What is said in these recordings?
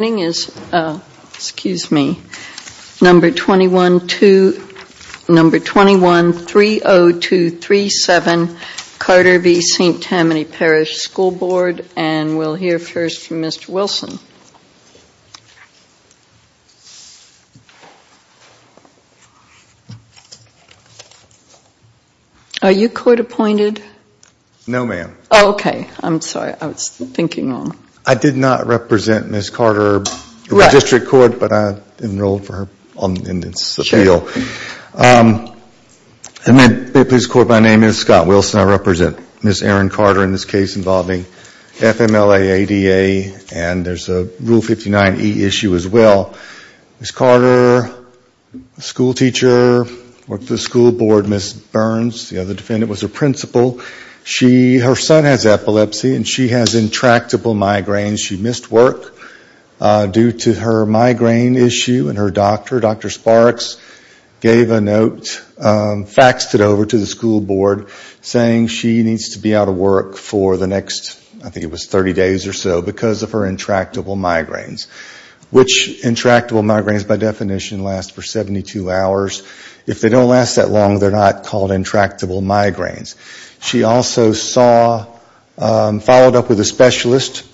Excuse me, number 2130237 Carter v. St. Tammany Parish School Board, and we'll hear first from Mr. Wilson. Are you court-appointed? No, ma'am. Oh, okay. I'm sorry, I was thinking wrong. I did not represent Ms. Carter in the district court, but I enrolled her in this appeal. And may it please the court, my name is Scott Wilson. I represent Ms. Erin Carter in this case involving FMLA, ADA, and there's a Rule 59e issue as well. Ms. Carter, a schoolteacher, worked with the school board. Ms. Burns, the other defendant, was a principal. Her son has epilepsy and she has intractable migraines. She missed work due to her migraine issue, and her doctor, Dr. Sparks, gave a note, faxed it over to the school board, saying she needs to be out of work for the next, I think it was 30 days or so, because of her intractable migraines, which intractable migraines, by definition, last for 72 hours. If they don't last that long, they're not called intractable migraines. She also saw, followed up with a specialist,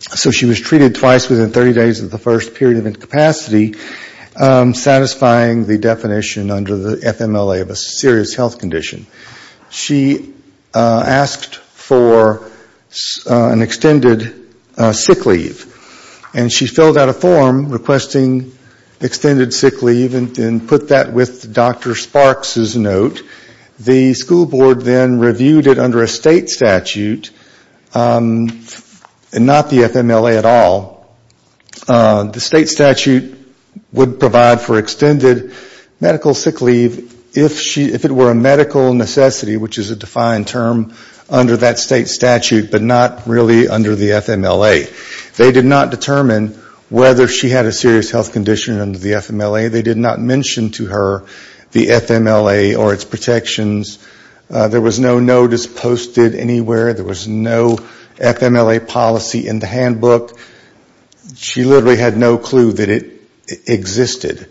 so she was treated twice within 30 days of the first period of incapacity, satisfying the definition under the FMLA of a serious health condition. She asked for an extended sick leave, and she filled out a form requesting extended sick leave and put that with Dr. Sparks' note. The school board then reviewed it under a state statute, not the FMLA at all. The state statute would provide for extended medical sick leave if it were a medical necessity, which is a defined term under that state statute, but not really under the FMLA. They did not determine whether she had a serious health condition under the FMLA. They did not mention to her the FMLA or its protections. There was no notice posted anywhere. There was no FMLA policy in the handbook. She literally had no clue that it existed.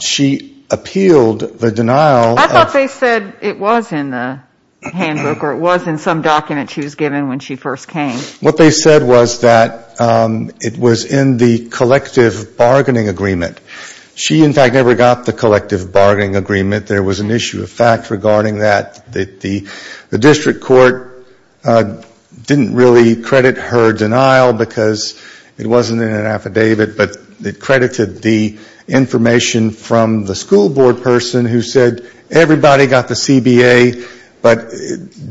She appealed the denial. I thought they said it was in the handbook or it was in some document she was given when she first came. What they said was that it was in the collective bargaining agreement. She, in fact, never got the collective bargaining agreement. There was an issue of fact regarding that. The district court didn't really credit her denial because it wasn't in an affidavit, but it credited the information from the school board person who said, everybody got the CBA, but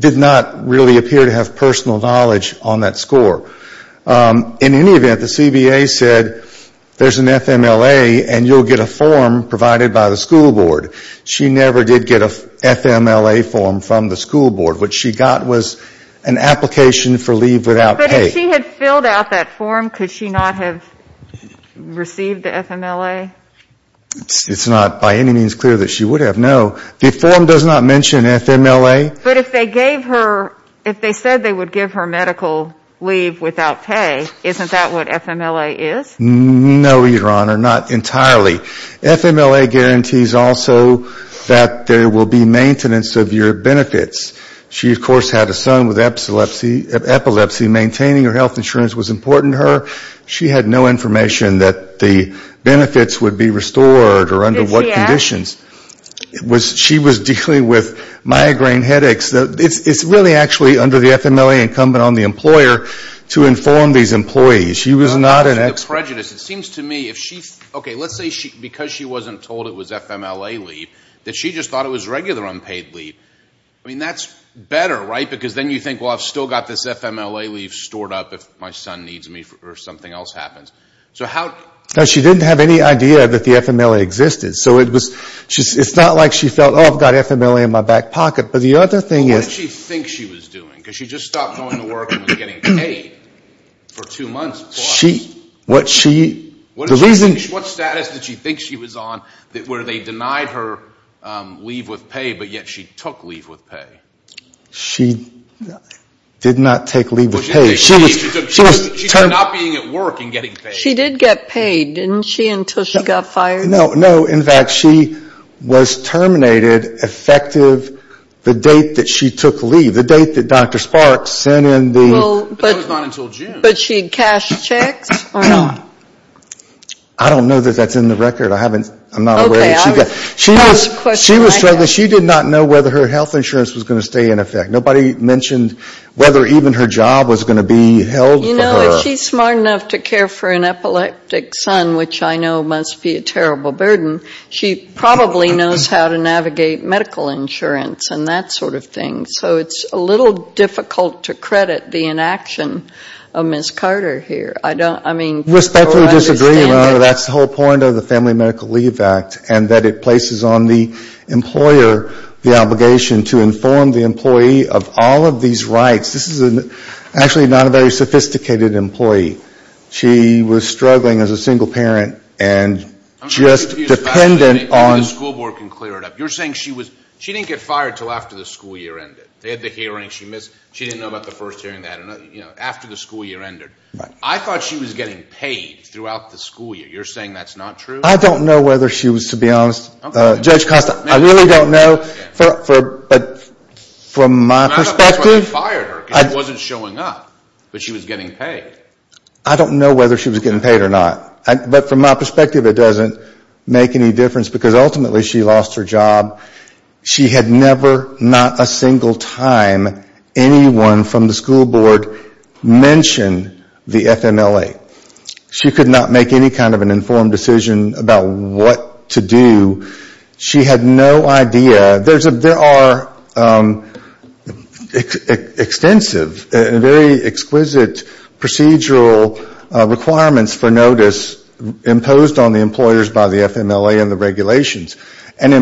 did not really appear to have personal knowledge on that score. In any event, the CBA said there's an FMLA and you'll get a form provided by the school board. She never did get an FMLA form from the school board. What she got was an application for leave without pay. But if she had filled out that form, could she not have received the FMLA? It's not by any means clear that she would have. No, the form does not mention FMLA. But if they gave her, if they said they would give her medical leave without pay, isn't that what FMLA is? No, Your Honor, not entirely. FMLA guarantees also that there will be maintenance of your benefits. She, of course, had a son with epilepsy. Maintaining her health insurance was important to her. She had no information that the benefits would be restored or under what conditions. She was dealing with migraine headaches. It's really actually under the FMLA incumbent on the employer to inform these employees. She was not an expert. It seems to me, okay, let's say because she wasn't told it was FMLA leave, that she just thought it was regular unpaid leave. I mean, that's better, right? Because then you think, well, I've still got this FMLA leave stored up if my son needs me or something else happens. She didn't have any idea that the FMLA existed. So it's not like she felt, oh, I've got FMLA in my back pocket. But the other thing is... What did she think she was doing? Because she just stopped going to work and was getting paid for two months plus. What status did she think she was on where they denied her leave with pay, but yet she took leave with pay? She did not take leave with pay. She did get paid, didn't she, until she got fired? No, in fact, she was terminated effective the date that she took leave, the date that Dr. Sparks sent in the... I don't know that that's in the record. I'm not aware that she got... She was struggling. She did not know whether her health insurance was going to stay in effect. Nobody mentioned whether even her job was going to be held for her. You know, if she's smart enough to care for an epileptic son, which I know must be a terrible burden, she probably knows how to navigate medical insurance and that sort of thing. So it's a little difficult to credit the inaction of Ms. Carter here. Respectfully disagree, Your Honor. That's the whole point of the Family Medical Leave Act and that it places on the employer the obligation to inform the employee of all of these rights. This is actually not a very sophisticated employee. She was struggling as a single parent and just dependent on... She didn't get fired until after the school year ended. They had the hearing, she missed... She didn't know about the first hearing, after the school year ended. I thought she was getting paid throughout the school year. You're saying that's not true? I don't know whether she was, to be honest. Judge Costa, I really don't know. But from my perspective... She had never, not a single time, anyone from the school board mention the FMLA. She could not make any kind of an informed decision about what to do. She had no idea. There are extensive, very exquisite procedural requirements for notice imposed on the employers by the FMLA and the regulations. And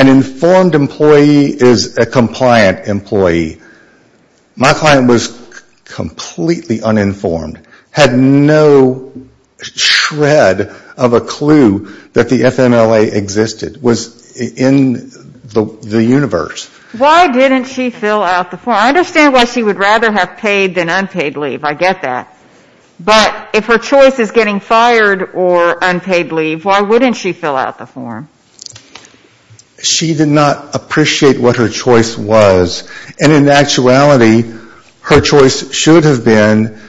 an informed employee is a compliant employee. My client was completely uninformed. Had no shred of a clue that the FMLA existed. Was in the universe. Why didn't she fill out the form? I understand why she would rather have paid than unpaid leave. I get that. But if her choice is getting fired or unpaid leave, why wouldn't she fill out the form? She did not appreciate what her choice was. And in actuality, her choice should have been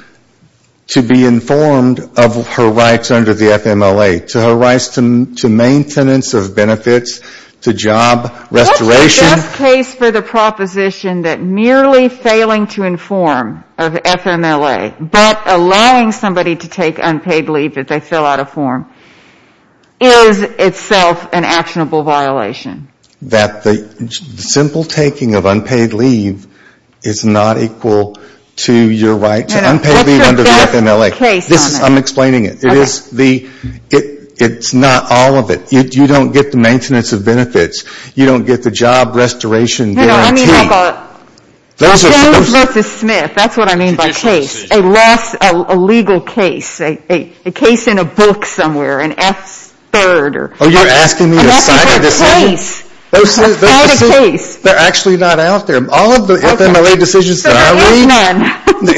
to be informed of her rights under the FMLA. To her rights to maintenance of benefits, to job restoration... The case for the proposition that merely failing to inform of FMLA, but allowing somebody to take unpaid leave if they fill out a form, is itself an actionable violation. That the simple taking of unpaid leave is not equal to your right to unpaid leave under the FMLA. I'm explaining it. It's not all of it. You don't get the maintenance of benefits. You don't get the job restoration of benefits. You don't get the job restoration guarantee. Those are... A legal case. A case in a book somewhere. An F-third. Oh, you're asking me a side of the case? They're actually not out there. All of the FMLA decisions that I read... They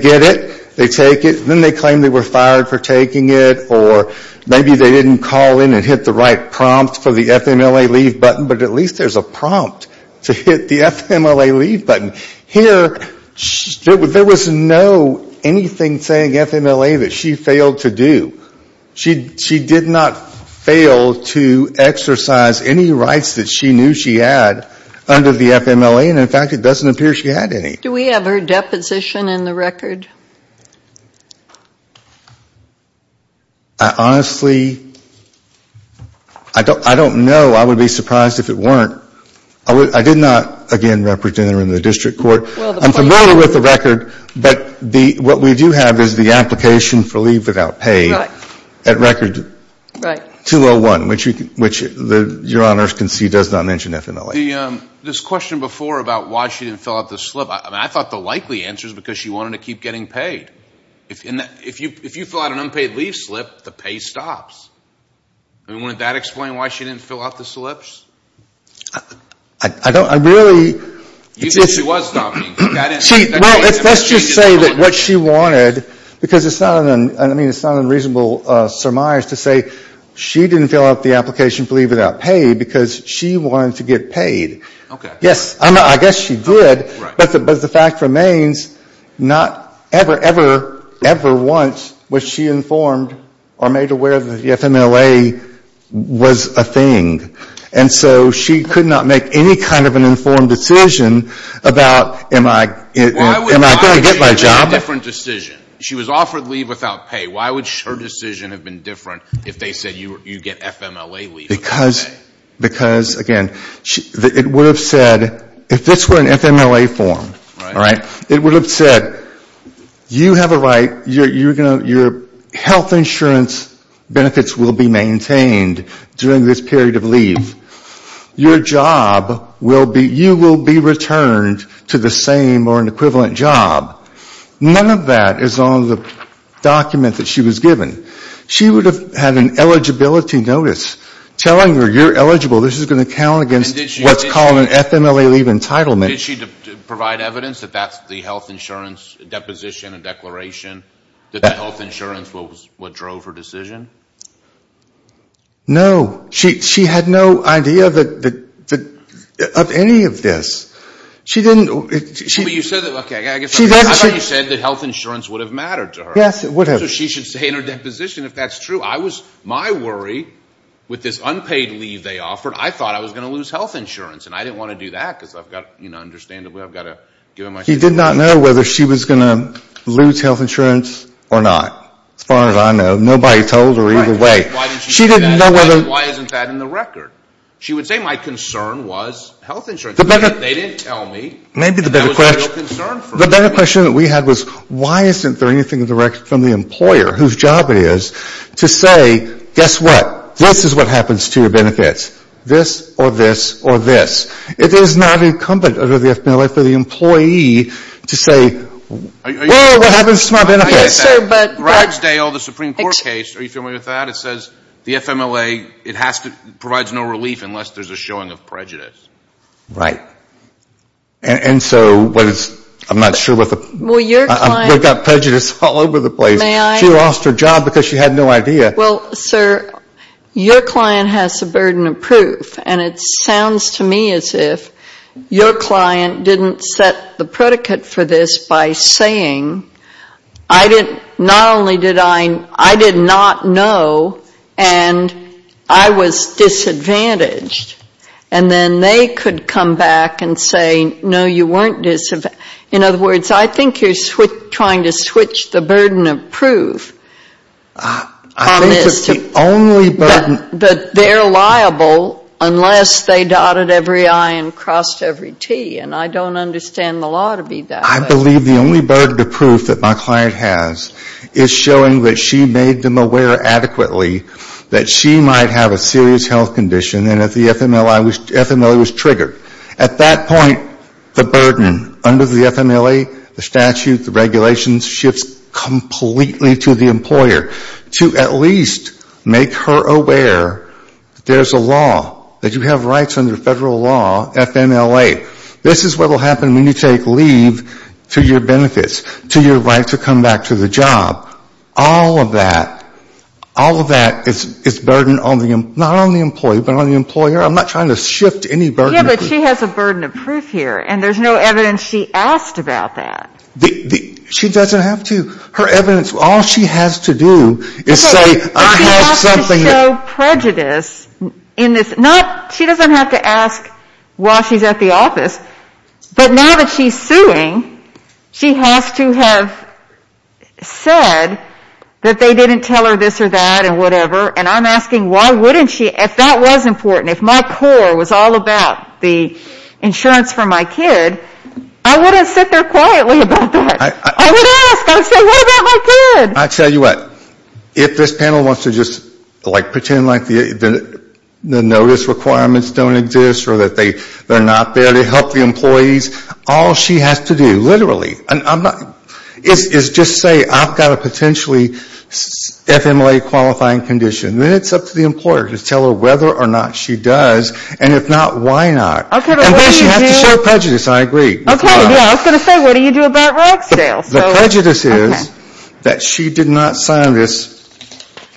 get it. They take it. Then they claim they were fired for taking it. Or maybe they didn't call in and hit the right prompt for the FMLA leave button, but at least there's a prompt to hit the FMLA leave button. Here, there was no anything saying FMLA that she failed to do. She did not fail to exercise any rights that she knew she had under the FMLA. And in fact, it doesn't appear she had any. Do we have her deposition in the record? Honestly, I don't know. I would be surprised if it weren't. I did not, again, represent her in the district court. I'm familiar with the record. But what we do have is the application for leave without pay at record 201. Which your honors can see does not mention FMLA. This question before about why she didn't fill out the slip, I thought the likely answer is because she wanted to keep getting paid. If you fill out an unpaid leave slip, the pay stops. Wouldn't that explain why she didn't fill out the slips? I don't, I really... Let's just say that what she wanted, because it's not an unreasonable surmise to say she didn't fill out the application for leave without pay, because she wanted to get paid. Yes, I guess she did, but the fact remains, not ever, ever, ever once was she informed or made aware that the FMLA was a thing. And so she could not make any kind of an informed decision about, am I going to get my job? Why would she make a different decision? She was offered leave without pay. Why would her decision have been different if they said you get FMLA leave without pay? Because, again, it would have said, if this were an FMLA form, it would have said, you have a right, your health insurance benefits will be maintained during this period of leave. Your job will be, you will be returned to the same or an equivalent job. None of that is on the document that she was given. She would have had an eligibility notice telling her, you're eligible, this is going to count against what's called an FMLA leave entitlement. Did she provide evidence that that's the health insurance deposition and declaration, that the health insurance was what drove her decision? No. She had no idea of any of this. She didn't. I thought you said that health insurance would have mattered to her. Yes, it would have. So she should say in her deposition, if that's true, I was, my worry, with this unpaid leave they offered, I thought I was going to lose health insurance. And I didn't want to do that, because I've got, you know, understandably, I've got to give them my... She did not know whether she was going to lose health insurance or not, as far as I know. Nobody told her either way. Why isn't that in the record? She would say my concern was health insurance. They didn't tell me. The better question that we had was why isn't there anything in the record from the employer whose job it is to say, guess what, this is what happens to your benefits, this or this or this. It is not incumbent under the FMLA for the employee to say, well, what happens to my benefits? Yes, sir, but... Ragsdale, the Supreme Court case, are you familiar with that? It says the FMLA, it has to, provides no relief unless there's a showing of prejudice. Right. And so what is, I'm not sure what the... She lost her job because she had no idea. Well, sir, your client has the burden of proof, and it sounds to me as if your client didn't set the predicate for this by saying, I didn't, not only did I, I did not know, and I was disadvantaged. And then they could come back and say, no, you weren't disadvantaged. In other words, I think you're trying to switch the burden of proof. I think it's the only burden... But they're liable unless they dotted every I and crossed every T, and I don't understand the law to be that way. I believe the only burden of proof that my client has is showing that she made them aware adequately that she might have a serious health condition and that the FMLA was triggered. At that point, the burden under the FMLA, the statute, the regulations, shifts completely to the employer to at least make her aware that there's a law, that you have rights under federal law, FMLA. This is what will happen when you take leave to your benefits, to your right to come back to the job. All of that, all of that is burden on the, not on the employee, but on the employer. I'm not trying to shift any burden of proof. Yeah, but she has a burden of proof here, and there's no evidence she asked about that. She doesn't have to. Her evidence, all she has to do is say, I have something... She doesn't have to ask while she's at the office, but now that she's suing, she has to have said that they didn't tell her this or that and whatever, and I'm asking, why wouldn't she? If that was important, if my core was all about the insurance for my kid, I wouldn't sit there quietly about that. I would ask. I would say, what about my kid? I tell you what, if this panel wants to just like pretend like the notice requirements don't exist or that they're not there to help the employees, all she has to do, literally, is just say, I've got a potentially FMLA qualifying condition. Then it's up to the employer to tell her whether or not she does, and if not, why not? And then she has to show prejudice. I agree. Okay, yeah, I was going to say, what do you do about Ragsdale? The prejudice is that she did not sign this,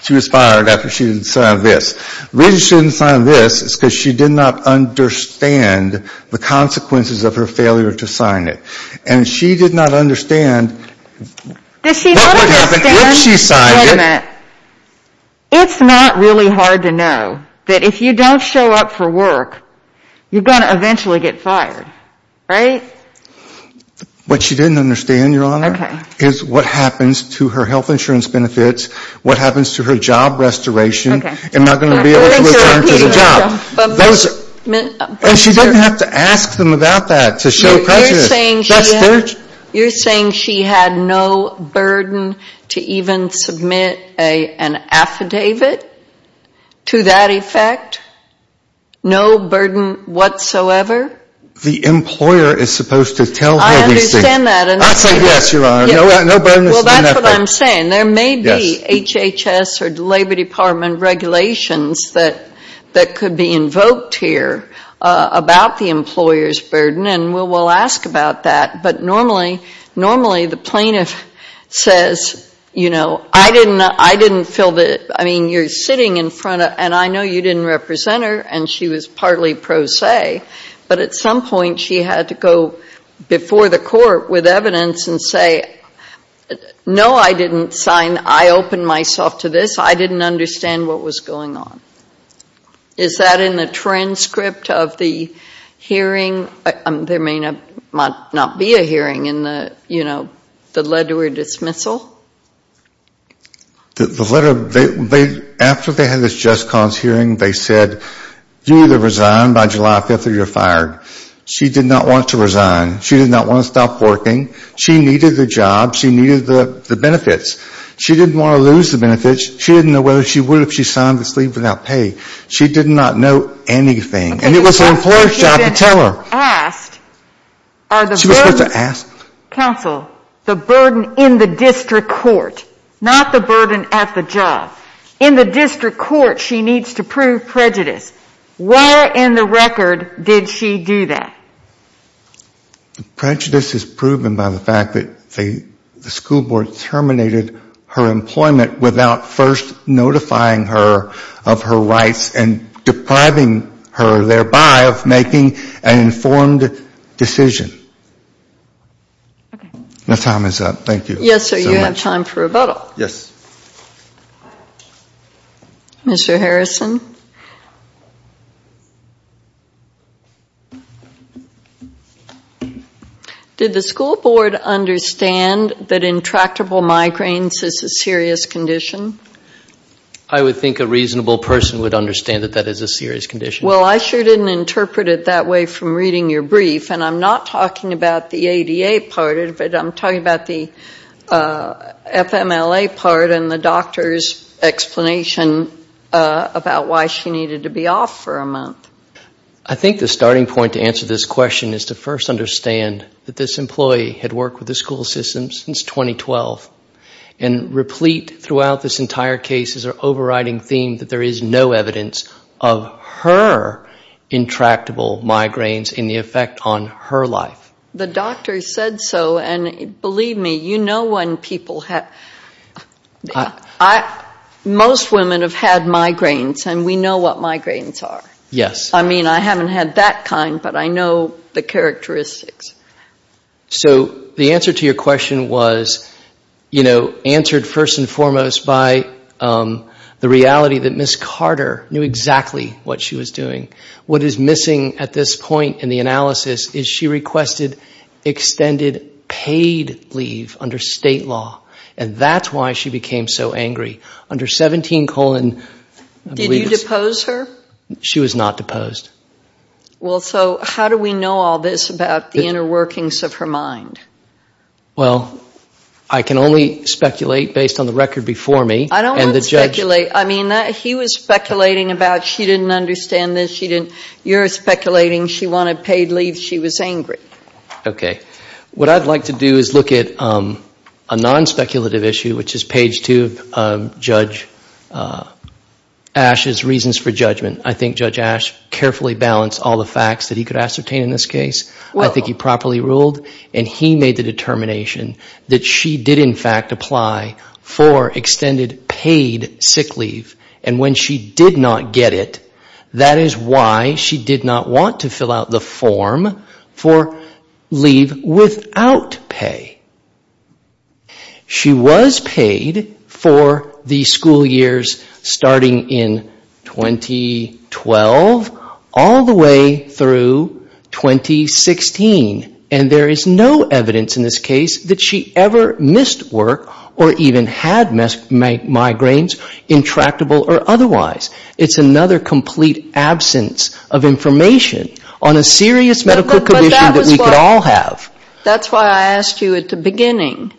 she was fired after she didn't sign this. The reason she didn't sign this is because she did not understand the consequences of her failure to sign it. And she did not understand what would happen if she signed it. Wait a minute. It's not really hard to know that if you don't show up for work, you're going to eventually get fired, right? What she didn't understand, Your Honor, is what happens to her health insurance benefits, what happens to her job restoration, am I going to be able to return to the job? And she didn't have to ask them about that to show prejudice. You're saying she had no burden to even submit an affidavit to that effect? No burden whatsoever? The employer is supposed to tell her. I understand that. I say yes, Your Honor, no burden. Well, that's what I'm saying. There may be HHS or the Labor Department regulations that could be invoked here about the employer's burden, and we'll ask about that. But normally the plaintiff says, you know, I didn't feel the, I mean, you're sitting in front of, and I know you didn't represent her, and she was partly pro se. But at some point she had to go before the court with evidence and say, no, I didn't sign, I opened myself to this, I didn't understand what was going on. Is that in the transcript of the hearing? There may not be a hearing in the, you know, the letter or dismissal? The letter, after they had this just cause hearing, they said, you either resign by July 5th or you're fired. She did not want to resign. She did not want to stop working. She needed the job. She needed the benefits. She didn't want to lose the benefits. She didn't know whether she would if she signed this leave without pay. She did not know anything. And it was her employer's job to tell her. She was supposed to ask, counsel, the burden in the district court, not the burden at the job. In the district court she needs to prove prejudice. Where in the record did she do that? Prejudice is proven by the fact that the school board terminated her employment without first notifying her of her rights and depriving her, thereby, of making an informed decision. My time is up. Thank you. Did the school board understand that intractable migraines is a serious condition? I would think a reasonable person would understand that that is a serious condition. Well, I sure didn't interpret it that way from reading your brief. And I'm not talking about the ADA part of it. I'm talking about the FMLA part and the doctor's explanation about why she needed to be off for a month. I think the starting point to answer this question is to first understand that this employee had worked with the school system since 2012. And replete throughout this entire case is an overriding theme that there is no evidence of her intractable migraines in the effect on her life. The doctor said so, and believe me, you know when people have, most women have had migraines, and we know what migraines are. I mean, I haven't had that kind, but I know the characteristics. So the answer to your question was, you know, answered first and foremost by the reality that Ms. Carter knew exactly what she was doing. What is missing at this point in the analysis is she requested extended paid leave under state law. And that's why she became so angry. Under 17 colon. Did you depose her? She was not deposed. Well, so how do we know all this about the inner workings of her mind? Well, I can only speculate based on the record before me. I don't want to speculate. I mean, he was speculating about she didn't understand this. You're speculating she wanted paid leave. She was angry. Okay. What I'd like to do is look at a non-speculative issue, which is page two of Judge Ash's reasons for judgment. I think Judge Ash carefully balanced all the facts that he could ascertain in this case. I think he properly ruled. And he made the determination that she did, in fact, apply for extended paid sick leave. And when she did not get it, that is why she did not want to fill out the form for leave without pay. She was paid for the school years starting in 2012 all the way through 2016. And there is no evidence in this case that she ever missed work or even had migraines, intractable or otherwise. It's another complete absence of information on a serious medical condition that we could all have. That's why I asked you at the beginning,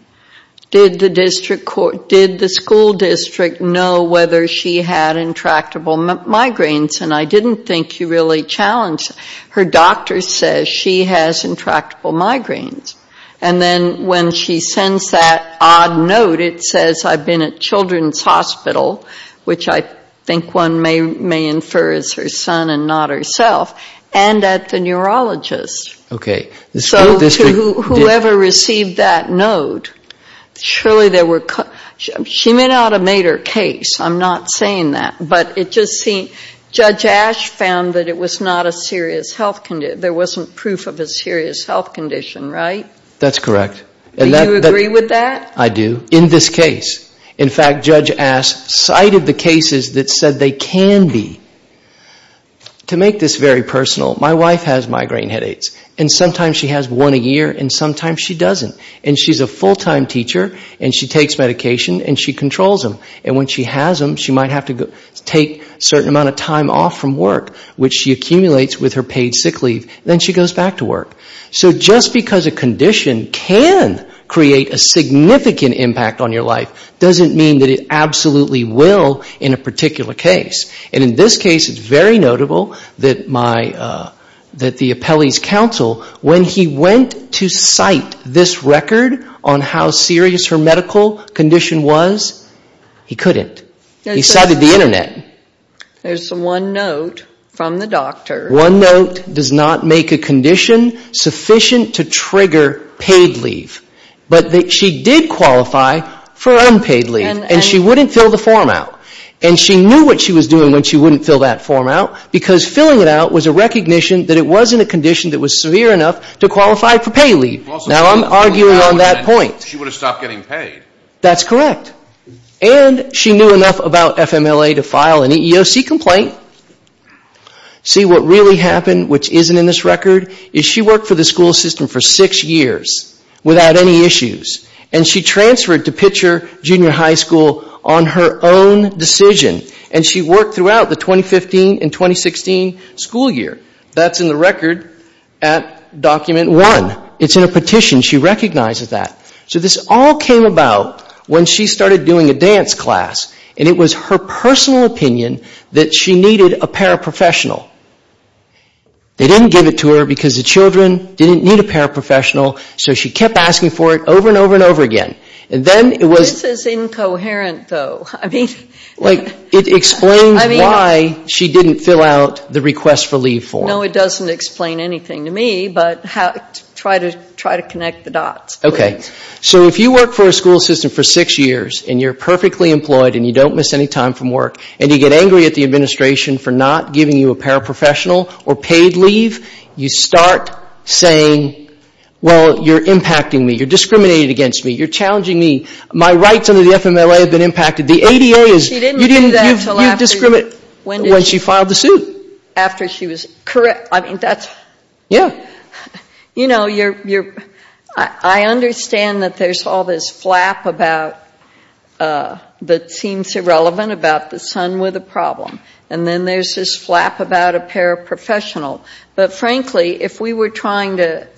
did the school district know whether she had intractable migraines? And I didn't think you really challenged her. Your doctor says she has intractable migraines. And then when she sends that odd note, it says, I've been at Children's Hospital, which I think one may infer is her son and not herself, and at the neurologist. So whoever received that note, surely there were, she may not have made her case. I'm not saying that. But it just seemed, Judge Ash found that it was not a serious health condition. There wasn't proof of a serious health condition, right? That's correct. Do you agree with that? I do. In this case. In fact, Judge Ash cited the cases that said they can be. To make this very personal, my wife has migraine headaches. And sometimes she has one a year and sometimes she doesn't. And she's a full-time teacher and she takes medication and she controls them. And when she has them, she might have to go to the doctor. Take a certain amount of time off from work, which she accumulates with her paid sick leave. Then she goes back to work. So just because a condition can create a significant impact on your life, doesn't mean that it absolutely will in a particular case. And in this case, it's very notable that the appellee's counsel, when he went to cite this record on how serious her medical condition was, he couldn't. He cited the internet. There's one note from the doctor. One note does not make a condition sufficient to trigger paid leave. But she did qualify for unpaid leave. And she wouldn't fill the form out. And she knew what she was doing when she wouldn't fill that form out, because filling it out was a recognition that it wasn't a condition that was severe enough to qualify for paid leave. Now I'm arguing on that point. She would have stopped getting paid. That's correct. And she knew enough about FMLA to file an EEOC complaint. See, what really happened, which isn't in this record, is she worked for the school system for six years without any issues. And she transferred to Pitcher Junior High School on her own decision. And she worked throughout the 2015 and 2016 school year. That's in the record at document one. It's in a petition. She recognizes that. So this all came about when she started doing a dance class. And it was her personal opinion that she needed a paraprofessional. They didn't give it to her because the children didn't need a paraprofessional. So she kept asking for it over and over and over again. This is incoherent, though. It explains why she didn't fill out the request for leave form. No, it doesn't explain anything to me. But try to connect the dots. Okay. So if you work for a school system for six years and you're perfectly employed and you don't miss any time from work and you get angry at the administration for not giving you a paraprofessional or paid leave, you start saying, well, you're impacting me. You're discriminating against me. You're challenging me. My rights under the FMLA have been impacted. The ADA is you discriminate when she filed the suit. After she was correct. I mean, that's. Yeah. You know, you're you're I understand that there's all this flap about that seems irrelevant about the son with a problem. And then there's this flap about a paraprofessional. But frankly, if we were trying to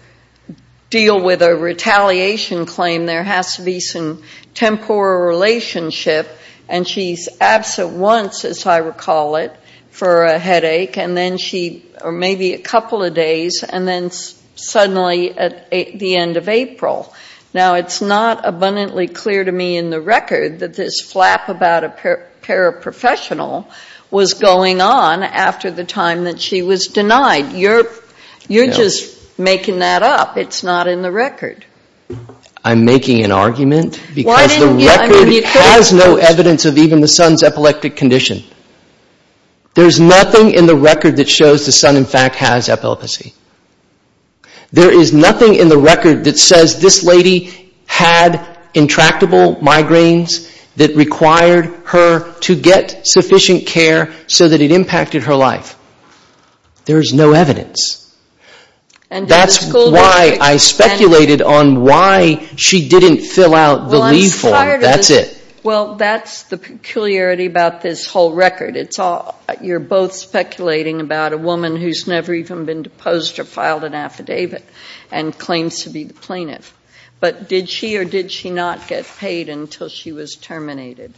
deal with a retaliation claim, there has to be some temporal relationship. And she's absent once, as I recall it, for a headache and then she or maybe a couple of days. And then suddenly at the end of April. Now, it's not abundantly clear to me in the record that this flap about a paraprofessional was going on after the time that she was denied. You're you're just making that up. It's not in the record. I'm making an argument because the record has no evidence of even the son's epileptic condition. There's nothing in the record that shows the son, in fact, has epilepsy. There is nothing in the record that says this lady had intractable migraines that required her to get sufficient care so that it impacted her life. There is no evidence. And that's why I speculated on why she didn't fill out the leave form. That's it. Well, that's the peculiarity about this whole record. It's all you're both speculating about a woman who's never even been deposed or filed an affidavit and claims to be the plaintiff. But did she or did she not get paid until she was terminated?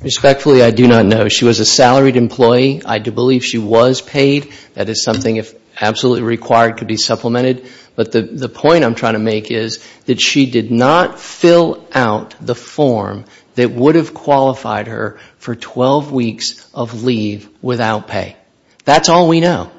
Respectfully, I do not know. She was a salaried employee. I do believe she was paid. That is something if absolutely required could be supplemented. But the point I'm trying to make is that she did not fill out the form that would have qualified her for 12 weeks of leave without pay. That's all we know.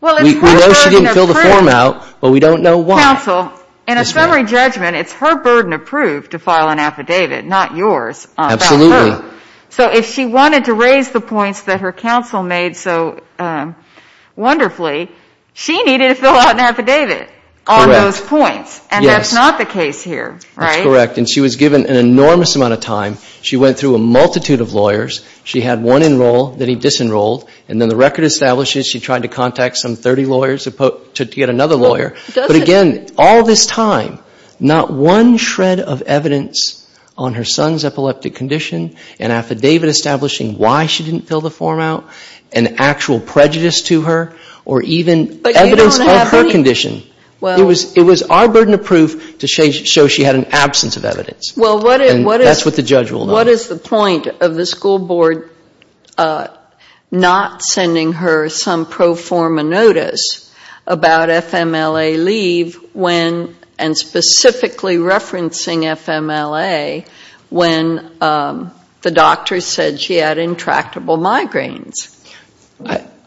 We know she didn't fill the form out, but we don't know why. Counsel, in a summary judgment, it's her burden of proof to file an affidavit, not yours. Absolutely. So if she wanted to raise the points that her counsel made so wonderfully, she needed to fill out an affidavit on those points. Correct. And that's not the case here, right? That's correct. And she was given an enormous amount of time. She went through a multitude of lawyers. She had one enroll that he disenrolled, and then the record establishes she tried to contact some 30 lawyers to get another lawyer. But again, all this time, not one shred of evidence on her son's epileptic condition, an affidavit establishing why she didn't fill the form out, an actual prejudice to her, or even evidence of her condition. It was our burden of proof to show she had an absence of evidence. And that's what the judge ruled on. Well, what is the point of the school board not sending her some pro forma notice about FMLA leave when, and specifically referencing FMLA, when the doctor said she had intractable migraines?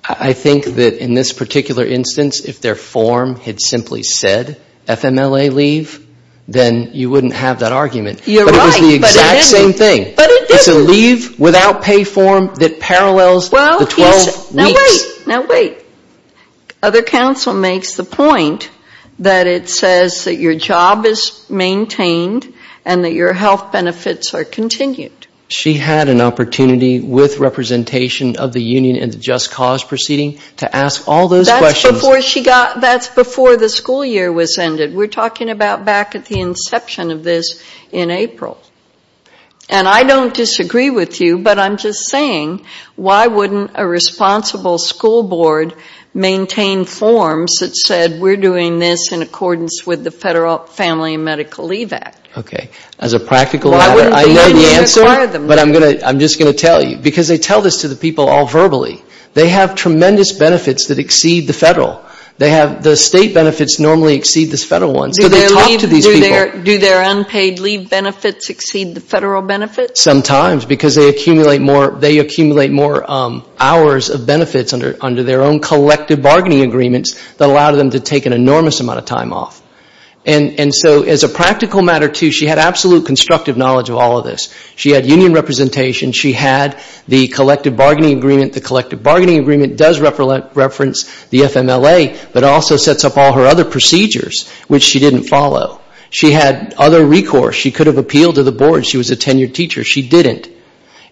I think that in this particular instance, if their form had simply said FMLA leave, then you wouldn't have that argument. You're right, but it didn't. But it was the exact same thing. It's a leave without pay form that parallels the 12 weeks. Now wait. Other counsel makes the point that it says that your job is maintained and that your health benefits are continued. She had an opportunity with representation of the union in the Just Cause proceeding to ask all those questions. That's before the school year was ended. We're talking about back at the inception of this in April. And I don't disagree with you, but I'm just saying, why wouldn't a responsible school board maintain forms that said we're doing this in accordance with the Federal Family and Medical Leave Act? As a practical matter, I know the answer, but I'm just going to tell you. Because they tell this to the people all verbally. They have tremendous benefits that exceed the Federal. The state benefits normally exceed the Federal ones. Do their unpaid leave benefits exceed the Federal benefits? Sometimes, because they accumulate more hours of benefits under their own collective bargaining agreements that allow them to take an enormous amount of time off. And so as a practical matter, too, she had absolute constructive knowledge of all of this. She had union representation. She had the collective bargaining agreement. The collective bargaining agreement does reference the FMLA, but also sets up all her other procedures, which she didn't follow. She had other recourse. She could have appealed to the board. She was a tenured teacher. She didn't.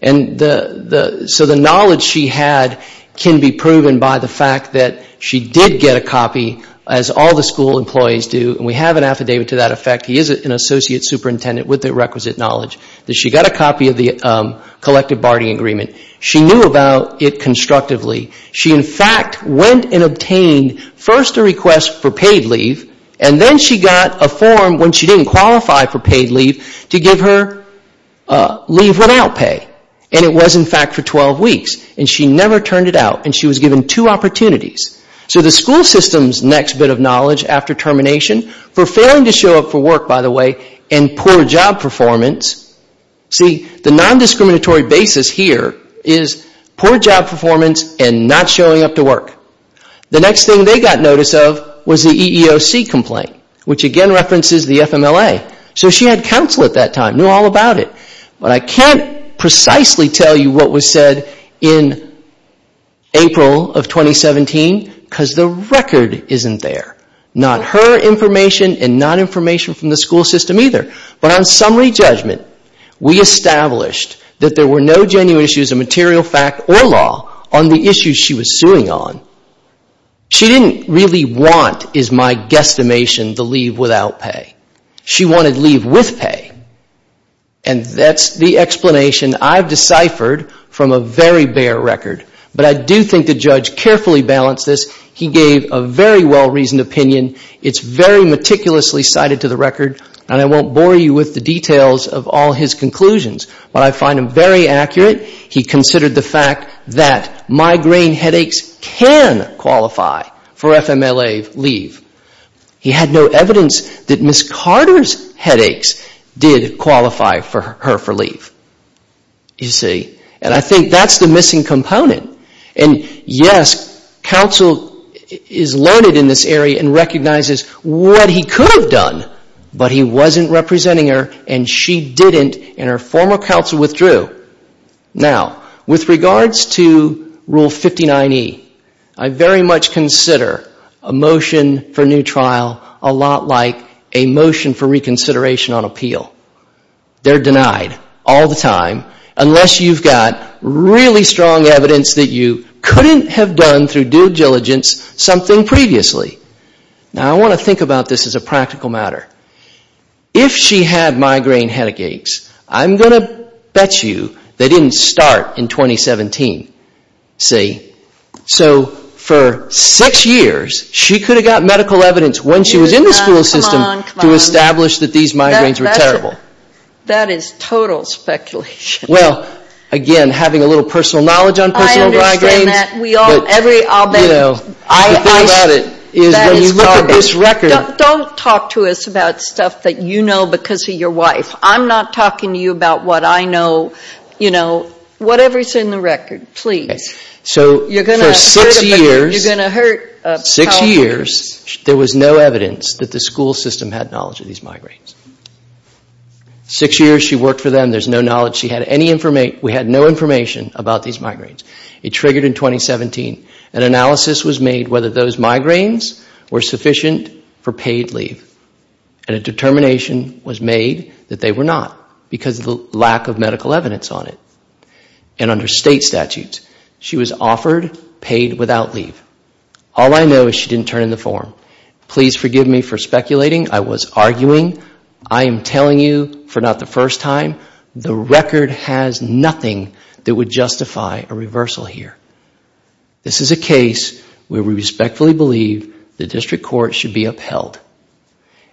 So the knowledge she had can be proven by the fact that she did get a copy, as all the school employees do, and we have an affidavit to that effect, he is an associate superintendent with the requisite knowledge, that she got a copy of the collective bargaining agreement. She knew about it constructively. She, in fact, went and obtained first a request for paid leave, and then she got a form when she didn't qualify for paid leave to give her leave without pay. And it was, in fact, for 12 weeks. And she never turned it out. And she was given two opportunities. So the school system's next bit of knowledge after termination, for failing to show up for work, by the way, and poor job performance. See, the non-discriminatory basis here is poor job performance and not showing up to work. The next thing they got notice of was the EEOC complaint, which again references the FMLA. So she had counsel at that time, knew all about it. But I can't precisely tell you what was said in April of 2017, because the record isn't there. Not her information and not information from the school system either. But on summary judgment, we established that there were no genuine issues of material fact or law on the issues she was suing on. She didn't really want, is my guesstimation, the leave without pay. She wanted leave with pay. And that's the explanation I've deciphered from a very bare record. But I do think the judge carefully balanced this. He gave a very well-reasoned opinion. It's very meticulously cited to the record, and I won't bore you with the details of all his conclusions. But I find him very accurate. He considered the fact that migraine headaches can qualify for FMLA leave. He had no evidence that Ms. Carter's headaches did qualify for her for leave. You see? And I think that's the missing component. And yes, counsel is learned in this area and recognizes what he could have done, but he wasn't representing her, and she didn't, and her former counsel withdrew. Now, with regards to Rule 59E, I very much consider a motion for a new trial a lot like a motion for reconsideration on appeal. They're denied all the time unless you've got really strong evidence that you couldn't have done through due diligence something previously. Now, I want to think about this as a practical matter. If she had migraine headaches, I'm going to bet you they didn't start in 2017. See? So for six years, she could have gotten medical evidence when she was in the school system to establish that these migraines were terrible. That is total speculation. Well, again, having a little personal knowledge on personal migraines. Don't talk to us about stuff that you know because of your wife. I'm not talking to you about what I know. Whatever's in the record, please. For six years, there was no evidence that the school system had knowledge of these migraines. Six years she worked for them, there's no knowledge. We had no information about these migraines. It triggered in 2017. An analysis was made whether those migraines were sufficient for paid leave. And a determination was made that they were not because of the lack of medical evidence on it. And under state statutes, she was offered paid without leave. All I know is she didn't turn in the form. Please forgive me for speculating. I was arguing. I am telling you for not the first time, the record has nothing that would justify a reversal here. This is a case where we respectfully believe the district court should be upheld.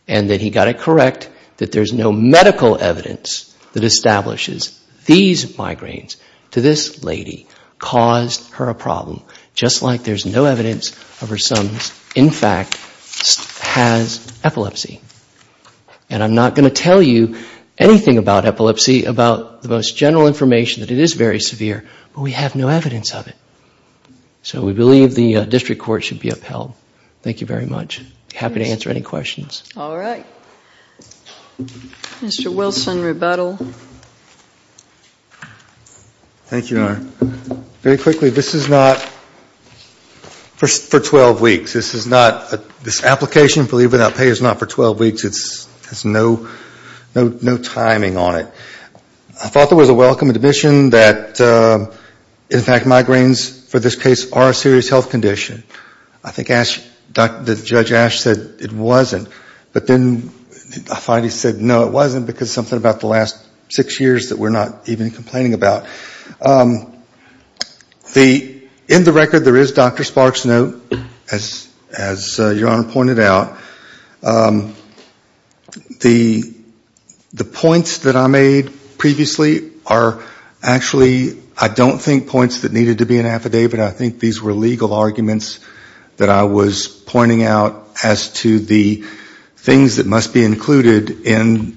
And that he got it correct that there's no medical evidence that establishes these migraines. To this lady, caused her a problem. Just like there's no evidence of her son's, in fact, has epilepsy. And I'm not going to tell you anything about epilepsy, about the most general information that it is very severe. But we have no evidence of it. Thank you very much. Happy to answer any questions. Mr. Wilson, rebuttal. Thank you, Your Honor. Very quickly, this is not for 12 weeks. This is not, this application for leave without pay is not for 12 weeks. It has no timing on it. I thought there was a welcome admission that, in fact, migraines for this case are a serious health condition. I think Judge Ash said it wasn't. But then I finally said, no, it wasn't, because something about the last six years that we're not even complaining about. In the record, there is Dr. Sparks' note, as Your Honor pointed out. The points that I made previously are actually, I don't think points that needed to be in affidavit. I think these were legal arguments that I was pointing out as to the things that must be included in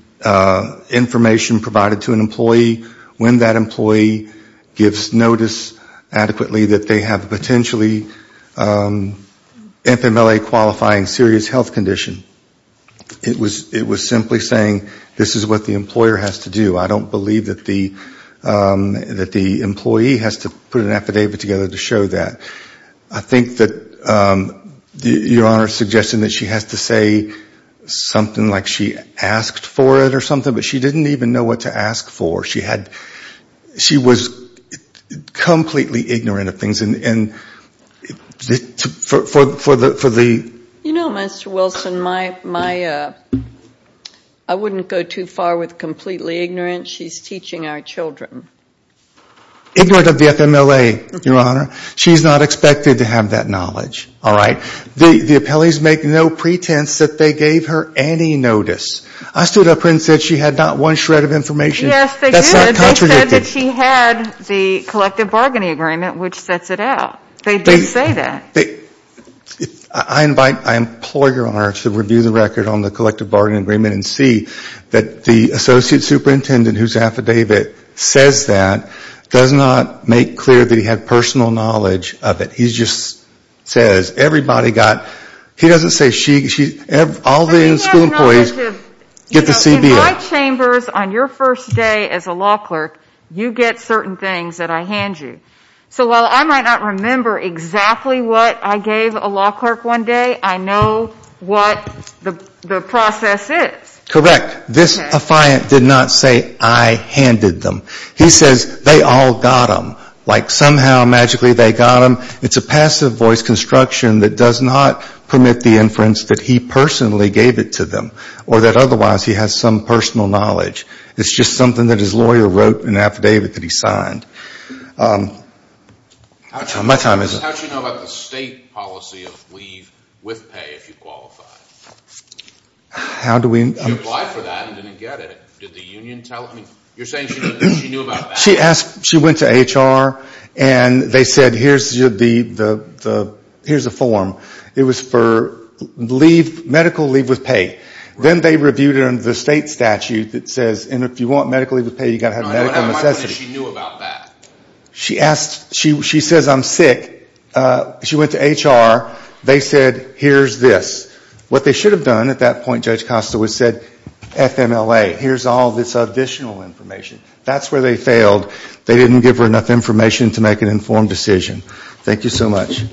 information provided to an employee, when that employee gives notice adequately that they have potentially FMLA qualifying serious health condition. It was simply saying this is what the employer has to do. I don't believe that the employee has to put an affidavit together to show that. I think that Your Honor suggested that she has to say something like she asked for it or something, but she didn't even know what to ask for. She was completely ignorant of things. You know, Mr. Wilson, I wouldn't go too far with completely ignorant. She's teaching our children. Ignorant of the FMLA, Your Honor. She's not expected to have that knowledge. And they said that she had the collective bargaining agreement, which sets it out. They did say that. I implore Your Honor to review the record on the collective bargaining agreement and see that the associate superintendent whose affidavit says that does not make clear that he had personal knowledge of it. He just says everybody got, he doesn't say she, all the school employees get the CBA. In my chambers on your first day as a law clerk, you get certain things that I hand you. So while I might not remember exactly what I gave a law clerk one day, I know what the process is. Correct. This affiant did not say I handed them. He says they all got them. Like somehow magically they got them. It's a passive voice construction that does not permit the inference that he personally gave it to them. Or that otherwise he has some personal knowledge. It's just something that his lawyer wrote in an affidavit that he signed. My time is up. How do you know about the state policy of leave with pay if you qualify? You applied for that and didn't get it. You're saying she knew about that? She went to HR and they said here's the form. It was for medical leave with pay. Then they reviewed it under the state statute that says if you want medical leave with pay, you have to have medical necessity. She says I'm sick. She went to HR, they said here's this. What they should have done at that point, Judge Costa, was said FMLA, here's all this additional information. That's where they failed. They didn't give her enough information to make an informed decision. Thank you so much.